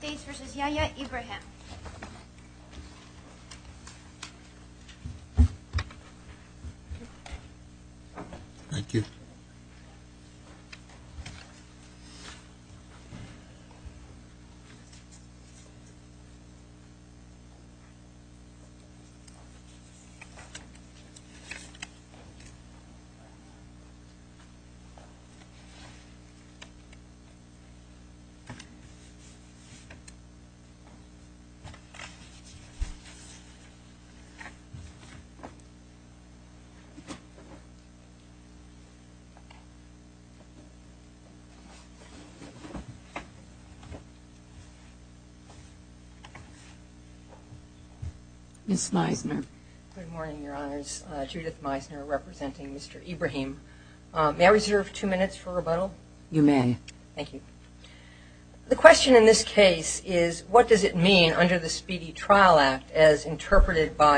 States v. Yahya Ibrahim Thank you Judith Meisner representing Mr. Ibrahim. May I reserve two minutes for rebuttal? You may.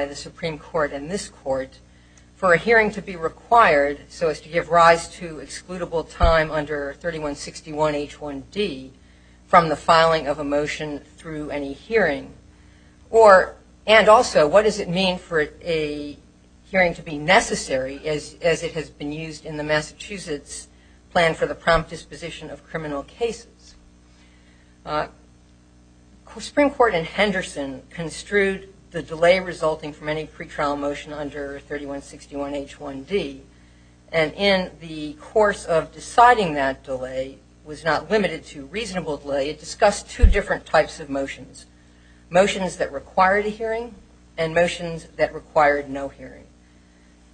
The Supreme Court in Henderson construed the delay resulting from any pre-trial motion under 3161H1D, and in the course of deciding that delay was not limited to reasonable delay, it discussed two different types of motions, motions that required a hearing and motions that required no hearing.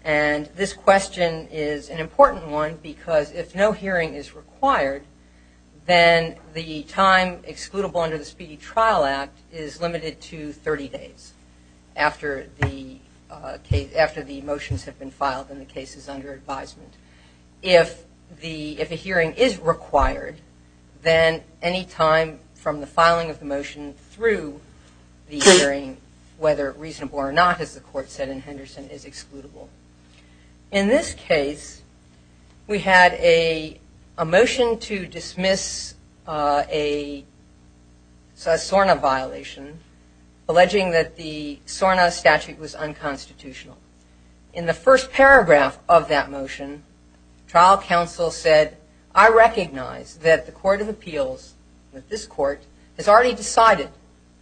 And this question is an important one because if no hearing is required, then the time excludable under the Speedy Trial Act is limited to 30 days after the motions have been filed and the case is under advisement. If a hearing is required, then any time from the filing of the motion through the hearing, whether reasonable or not, as the court said in Henderson, is excludable. In this case, we had a motion to dismiss a SORNA violation alleging that the SORNA statute was unconstitutional. In the first paragraph of that motion, trial counsel said, I recognize that the Court of Appeals, this court, has already decided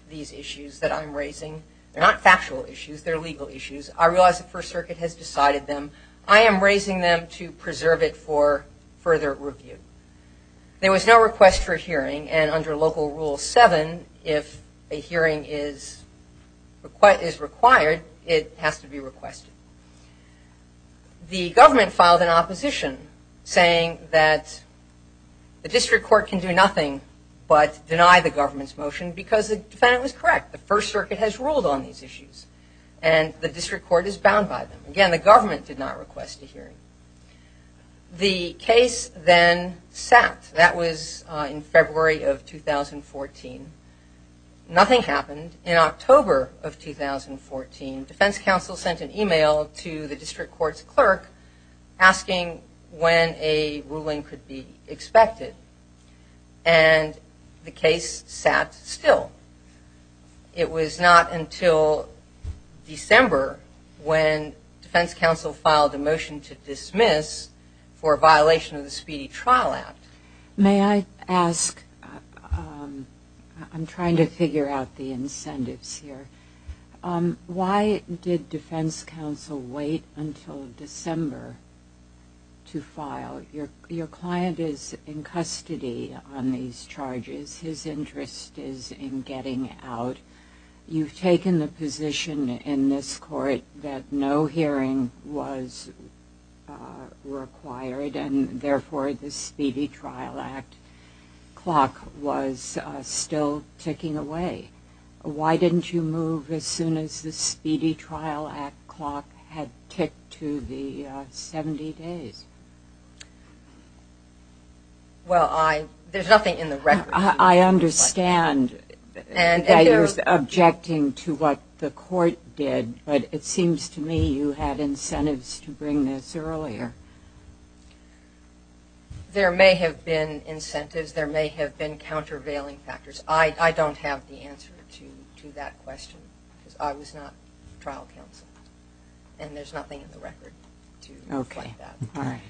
these issues that I'm raising. They're not factual issues, they're legal issues. I realize the First Circuit has decided them. I am raising them to preserve it for further review. There was no request for a hearing and under Local Rule 7, if a hearing is required, it has to be requested. The government filed an opposition saying that the district court can do nothing but deny the government's motion because the defendant was correct. The First Circuit has ruled on these issues and the district court is bound by them. Again, the government did not request a hearing. The case then sat. That was in February of 2014. Nothing happened. In October of 2014, defense counsel sent an email to the district court's clerk asking when a ruling could be expected. And the case sat still. It was not until December when defense counsel filed a motion to dismiss for a violation of the Speedy Trial Act. May I ask, I'm trying to figure out the incentives here, why did defense counsel wait until December to file? Your client is in custody on these charges. His interest is in getting out. You've taken the position in this court that no hearing was required and therefore the Speedy Trial Act clock was still ticking away. Why didn't you move as soon as the Speedy Trial Act clock had ticked to the 70 days? Well, there's nothing in the record. I understand that you're objecting to what the court did, but it seems to me you had incentives to bring this earlier. There may have been incentives. There may have been countervailing factors. I don't have the answer to that question because I was not trial counsel. And there's nothing in the record to explain that.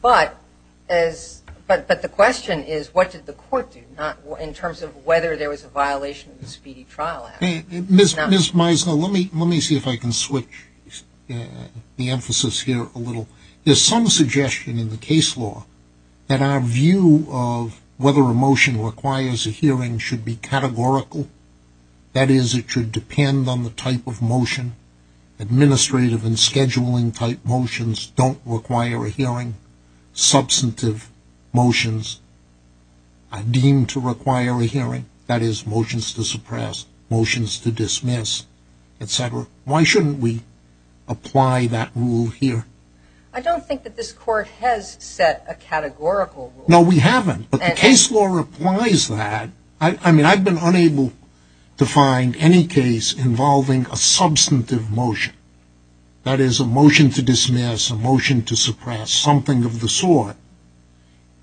But the question is what did the court do in terms of whether there was a violation of the Speedy Trial Act. Ms. Meisner, let me see if I can switch the emphasis here a little. There's some suggestion in the case law that our view of whether a motion requires a hearing should be categorical. That is, it should depend on the type of motion. Administrative and scheduling type motions don't require a hearing. Substantive motions are deemed to require a hearing. That is, motions to suppress, motions to dismiss, etc. Why shouldn't we apply that rule here? I don't think that this court has set a categorical rule. No, we haven't, but the case law applies that. I mean, I've been unable to find any case involving a substantive motion. That is, a motion to dismiss, a motion to suppress, something of the sort,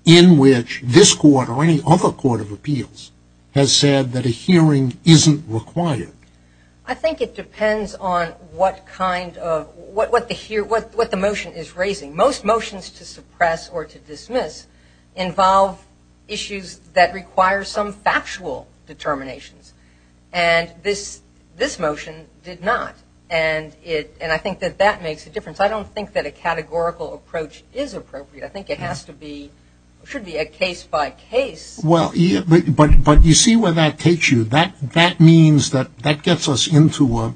in which this court or any other court of appeals has said that a hearing isn't required. I think it depends on what the motion is raising. Most motions to suppress or to dismiss involve issues that require some factual determinations. And this motion did not. And I think that that makes a difference. I don't think that a categorical approach is appropriate. I think it has to be, it should be a case-by-case. Well, but you see where that takes you. That means that that gets us into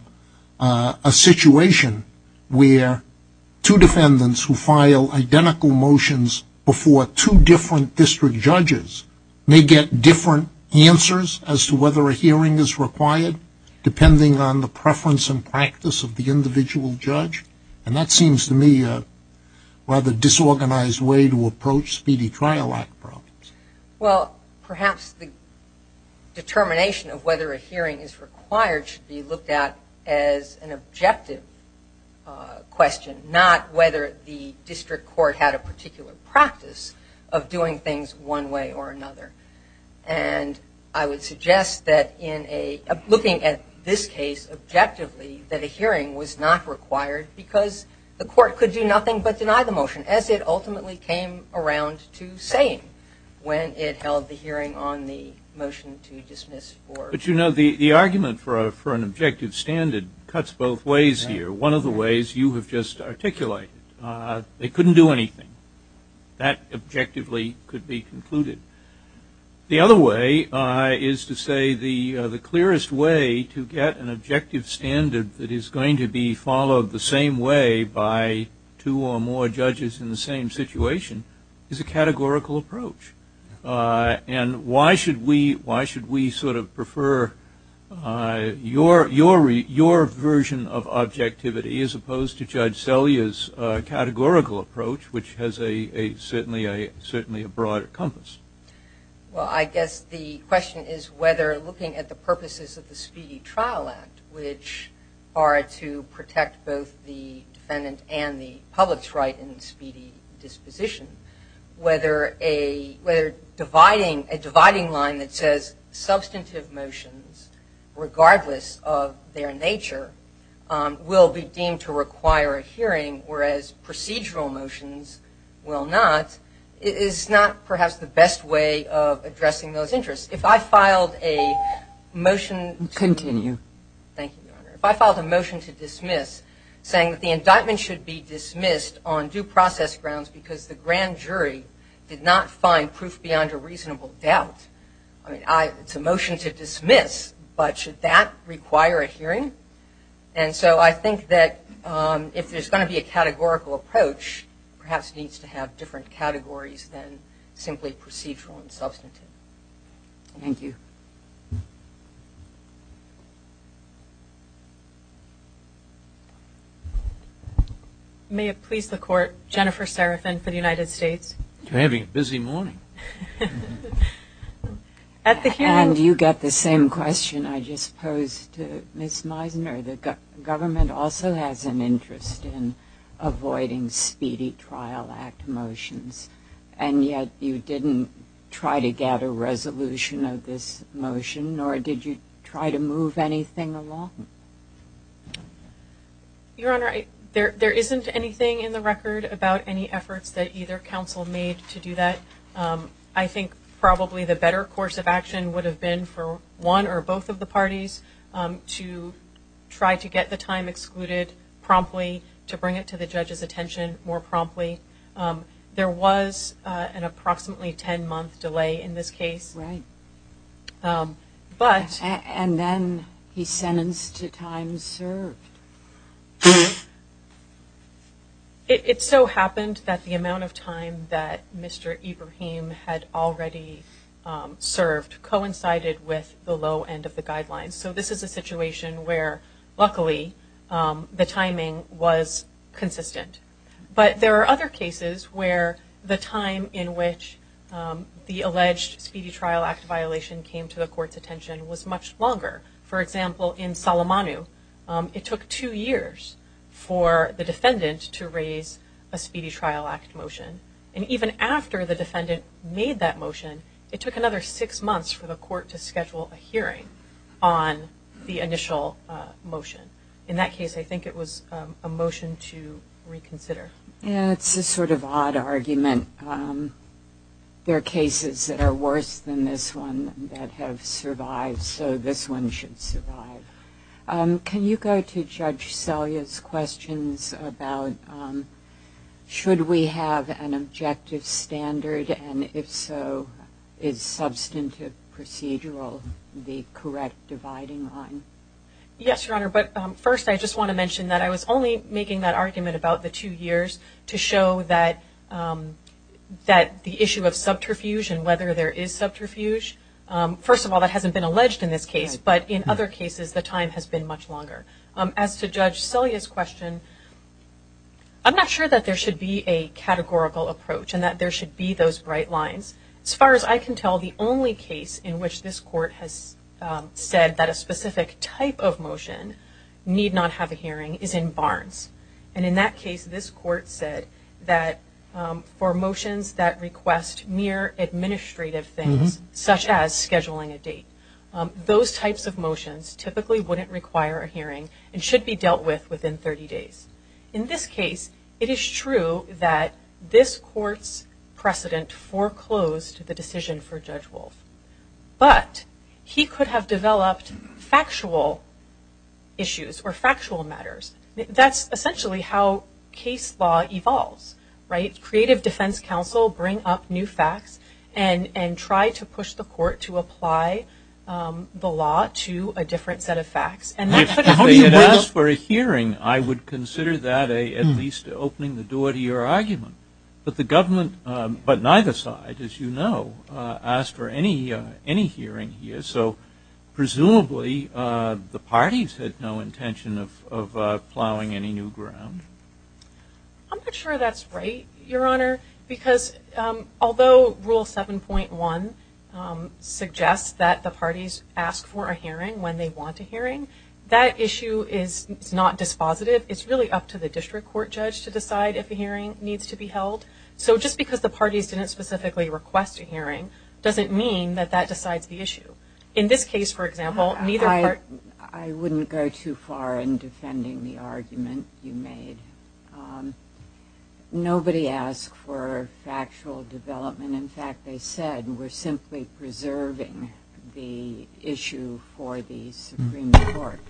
a situation where two defendants who file identical motions before two different district judges may get different answers as to whether a hearing is required, depending on the preference and practice of the individual judge. And that seems to me a rather disorganized way to approach speedy trial act problems. Well, perhaps the determination of whether a hearing is required should be looked at as an objective question, not whether the district court had a particular practice of doing things one way or another. And I would suggest that in a, looking at this case objectively, that a hearing was not required because the court could do nothing but deny the motion, as it ultimately came around to saying when it held the hearing on the motion to dismiss. But, you know, the argument for an objective standard cuts both ways here. One of the ways you have just articulated, they couldn't do anything. That objectively could be concluded. The other way is to say the clearest way to get an objective standard that is going to be followed the same way by two or more judges in the same situation is a categorical approach. And why should we sort of prefer your version of objectivity as opposed to Judge Selya's categorical approach, which has certainly a broad compass? Well, I guess the question is whether looking at the purposes of the Speedy Trial Act, which are to protect both the defendant and the public's right in speedy disposition, whether dividing, a dividing line that says substantive motions, regardless of their nature, will be deemed to require a hearing, whereas procedural motions will not, is not perhaps the best way of addressing those interests. If I filed a motion to. Continue. Thank you, Your Honor. If I filed a motion to dismiss saying that the indictment should be dismissed on due process grounds because the grand jury did not find proof beyond a reasonable doubt, it's a motion to dismiss, but should that require a hearing? And so I think that if there's going to be a categorical approach, perhaps it needs to have different categories than simply procedural and substantive. Thank you. May it please the Court, Jennifer Serafin for the United States. You're having a busy morning. At the hearing. And you get the same question I just posed to Ms. Meisner. The government also has an interest in avoiding Speedy Trial Act motions, and yet you didn't try to get a resolution of this motion, nor did you try to move anything along. Your Honor, there isn't anything in the record about any efforts that either counsel made to do that. I think probably the better course of action would have been for one or both of the parties to try to get the time excluded promptly, to bring it to the judge's attention more promptly. There was an approximately 10-month delay in this case. And then he sentenced to time served. It so happened that the amount of time that Mr. Ibrahim had already served coincided with the low end of the guidelines. So this is a situation where, luckily, the timing was consistent. But there are other cases where the time in which the alleged Speedy Trial Act violation came to the court's attention was much longer. For example, in Salamanu, it took two years for the defendant to raise a Speedy Trial Act motion. And even after the defendant made that motion, it took another six months for the court to schedule a hearing on the initial motion. In that case, I think it was a motion to reconsider. It's a sort of odd argument. There are cases that are worse than this one that have survived, so this one should survive. Can you go to Judge Selya's questions about should we have an objective standard, and if so, is substantive procedural the correct dividing line? Yes, Your Honor, but first I just want to mention that I was only making that argument about the two years to show that the issue of subterfuge and whether there is subterfuge, first of all, that hasn't been alleged in this case. But in other cases, the time has been much longer. As to Judge Selya's question, I'm not sure that there should be a categorical approach and that there should be those bright lines. As far as I can tell, the only case in which this court has said that a specific type of motion need not have a hearing is in Barnes. And in that case, this court said that for motions that request mere administrative things, such as scheduling a date, those types of motions typically wouldn't require a hearing and should be dealt with within 30 days. In this case, it is true that this court's precedent foreclosed the decision for Judge Wolf, but he could have developed factual issues or factual matters. That's essentially how case law evolves, right? Creative defense counsel bring up new facts and try to push the court to apply the law to a different set of facts. If they had asked for a hearing, I would consider that at least opening the door to your argument. But the government, but neither side, as you know, asked for any hearing here, so presumably the parties had no intention of plowing any new ground. I'm not sure that's right, Your Honor, because although Rule 7.1 suggests that the parties ask for a hearing when they want a hearing, that issue is not dispositive. It's really up to the district court judge to decide if a hearing needs to be held. So just because the parties didn't specifically request a hearing doesn't mean that that decides the issue. In this case, for example, neither party – I wouldn't go too far in defending the argument you made. Nobody asked for factual development. In fact, they said we're simply preserving the issue for the Supreme Court.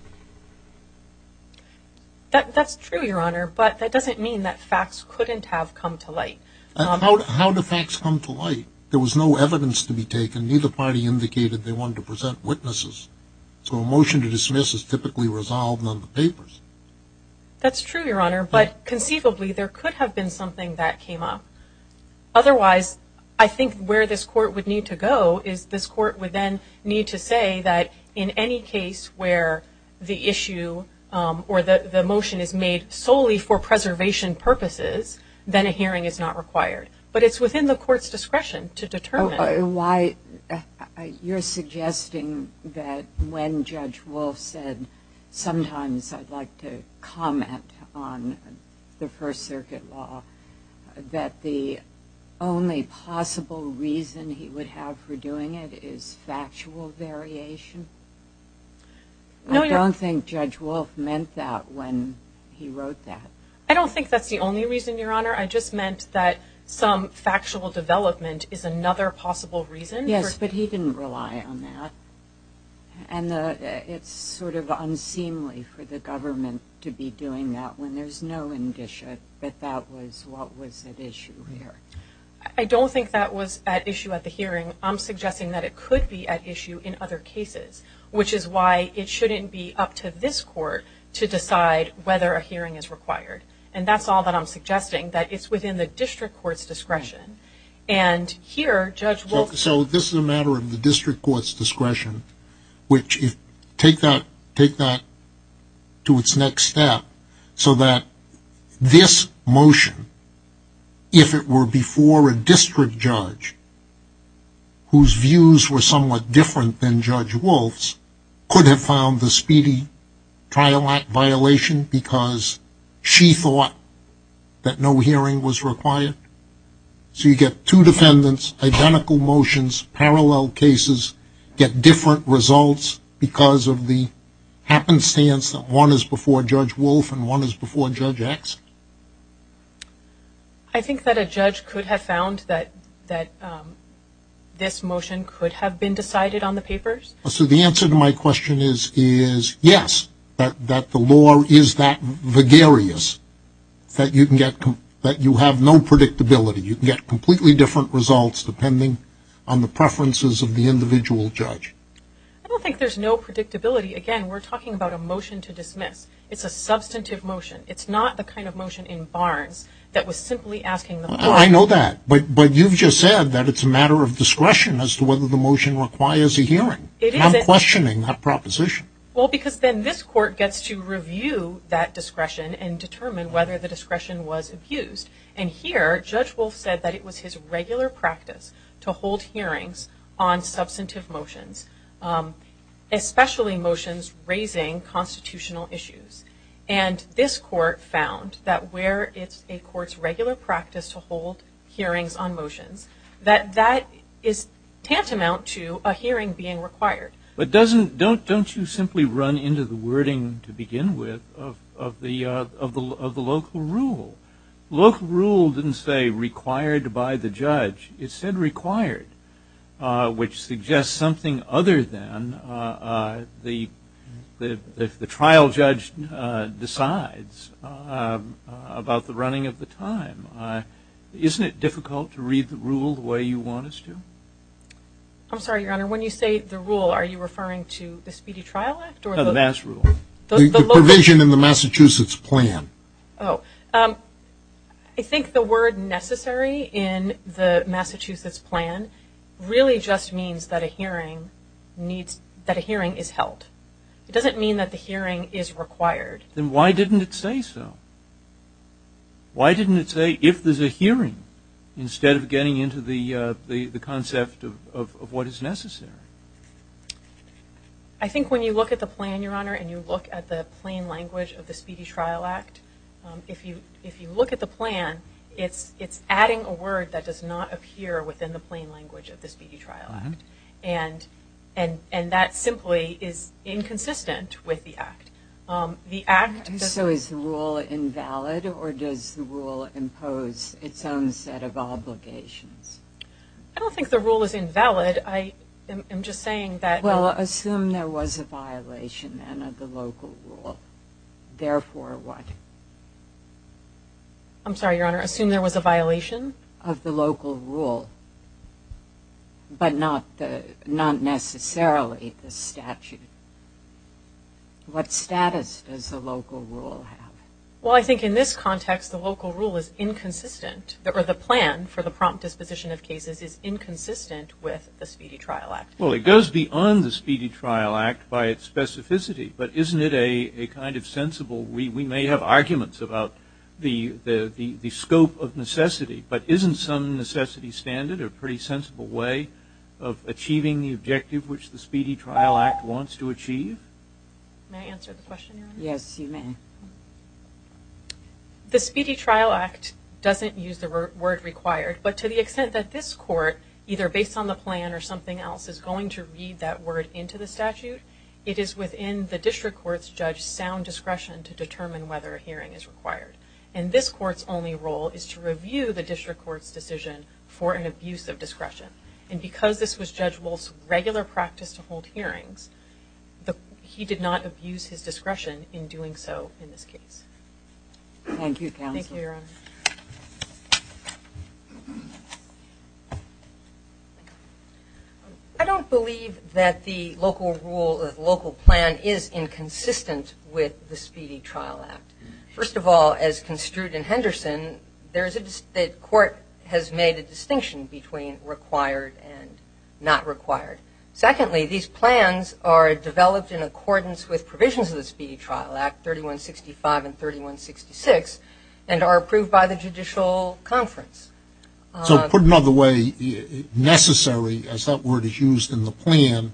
That's true, Your Honor, but that doesn't mean that facts couldn't have come to light. How do facts come to light? There was no evidence to be taken. Neither party indicated they wanted to present witnesses. So a motion to dismiss is typically resolved on the papers. That's true, Your Honor, but conceivably there could have been something that came up. Otherwise, I think where this court would need to go is this court would then need to say that in any case where the issue or the motion is made solely for preservation purposes, then a hearing is not required. But it's within the court's discretion to determine. You're suggesting that when Judge Wolf said, sometimes I'd like to comment on the First Circuit law, that the only possible reason he would have for doing it is factual variation? I don't think Judge Wolf meant that when he wrote that. I don't think that's the only reason, Your Honor. I just meant that some factual development is another possible reason. Yes, but he didn't rely on that. And it's sort of unseemly for the government to be doing that when there's no indicia that that was what was at issue here. I don't think that was at issue at the hearing. I'm suggesting that it could be at issue in other cases, which is why it shouldn't be up to this court to decide whether a hearing is required. And that's all that I'm suggesting, that it's within the district court's discretion. And here, Judge Wolf... So this is a matter of the district court's discretion. Take that to its next step so that this motion, if it were before a district judge whose views were somewhat different than Judge Wolf's, could have found the speedy trial act violation because she thought that no hearing was required. So you get two defendants, identical motions, parallel cases, get different results because of the happenstance that one is before Judge Wolf and one is before Judge Axe. I think that a judge could have found that this motion could have been decided on the papers. So the answer to my question is yes, that the law is that vagarious, that you have no predictability. You can get completely different results depending on the preferences of the individual judge. I don't think there's no predictability. Again, we're talking about a motion to dismiss. It's a substantive motion. It's not the kind of motion in Barnes that was simply asking the court... I know that, but you've just said that it's a matter of discretion as to whether the motion requires a hearing. I'm questioning that proposition. Well, because then this court gets to review that discretion and determine whether the discretion was abused. And here, Judge Wolf said that it was his regular practice to hold hearings on substantive motions, especially motions raising constitutional issues. And this court found that where it's a court's regular practice to hold hearings on motions, that that is tantamount to a hearing being required. But don't you simply run into the wording, to begin with, of the local rule? Local rule didn't say required by the judge. It said required, which suggests something other than if the trial judge decides about the running of the time. Isn't it difficult to read the rule the way you want us to? I'm sorry, Your Honor. When you say the rule, are you referring to the Speedy Trial Act? No, the MAS rule. The provision in the Massachusetts plan. Oh. I think the word necessary in the Massachusetts plan really just means that a hearing is held. It doesn't mean that the hearing is required. Then why didn't it say so? Why didn't it say if there's a hearing instead of getting into the concept of what is necessary? I think when you look at the plan, Your Honor, and you look at the plain language of the Speedy Trial Act, if you look at the plan, it's adding a word that does not appear within the plain language of the Speedy Trial Act. And that simply is inconsistent with the act. So is the rule invalid, or does the rule impose its own set of obligations? I don't think the rule is invalid. I'm just saying that – Well, assume there was a violation, then, of the local rule. Therefore what? I'm sorry, Your Honor. Assume there was a violation? Of the local rule, but not necessarily the statute. What status does the local rule have? Well, I think in this context the local rule is inconsistent, or the plan for the prompt disposition of cases is inconsistent with the Speedy Trial Act. Well, it goes beyond the Speedy Trial Act by its specificity, but isn't it a kind of sensible – we may have arguments about the scope of necessity, but isn't some necessity standard a pretty sensible way of achieving the objective which the Speedy Trial Act wants to achieve? May I answer the question, Your Honor? Yes, you may. The Speedy Trial Act doesn't use the word required, but to the extent that this court, either based on the plan or something else, is going to read that word into the statute, it is within the district court's judge's sound discretion to determine whether a hearing is required. And this court's only role is to review the district court's decision for an abuse of discretion. And because this was Judge Wolf's regular practice to hold hearings, he did not abuse his discretion in doing so in this case. Thank you, counsel. Thank you, Your Honor. I don't believe that the local rule, the local plan, is inconsistent with the Speedy Trial Act. First of all, as construed in Henderson, the court has made a distinction between required and not required. Secondly, these plans are developed in accordance with provisions of the Speedy Trial Act, 3165 and 3166, and are approved by the judicial conference. So put another way, necessary, as that word is used in the plan,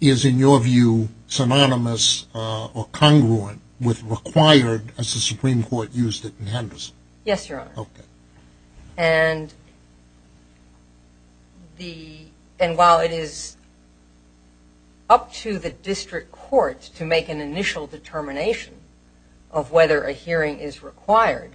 is, in your view, synonymous or congruent with required as the Supreme Court used it in Henderson? Yes, Your Honor. Okay. And while it is up to the district court to make an initial determination of whether a hearing is required,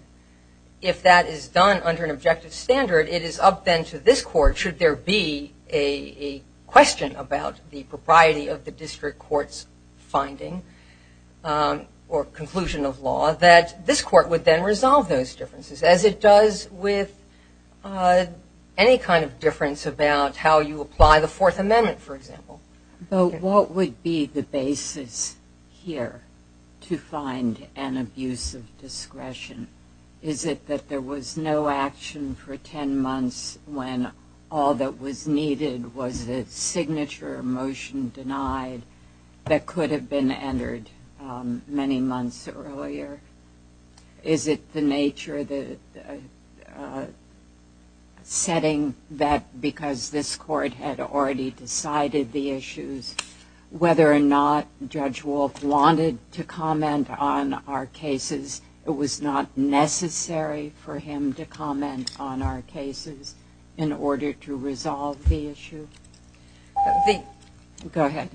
if that is done under an objective standard, it is up then to this court, should there be a question about the propriety of the district court's finding or conclusion of law, that this court would then resolve those differences, as it does with any kind of difference about how you apply the Fourth Amendment, for example. But what would be the basis here to find an abuse of discretion? Is it that there was no action for 10 months when all that was needed was a signature motion denied that could have been entered many months earlier? Is it the nature of the setting that because this court had already decided the issues, whether or not Judge Wolff wanted to comment on our cases, it was not necessary for him to comment on our cases in order to resolve the issue? Go ahead.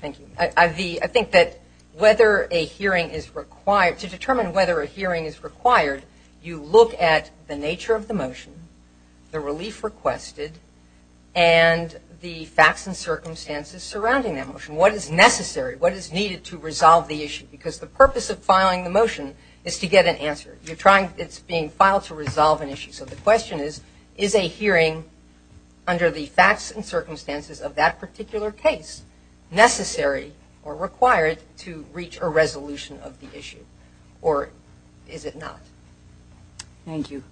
Thank you. I think that whether a hearing is required, to determine whether a hearing is required, you look at the nature of the motion, the relief requested, and the facts and circumstances surrounding that motion. What is necessary? What is needed to resolve the issue? Because the purpose of filing the motion is to get an answer. It's being filed to resolve an issue. So the question is, is a hearing under the facts and circumstances of that particular case necessary or required to reach a resolution of the issue, or is it not? Thank you.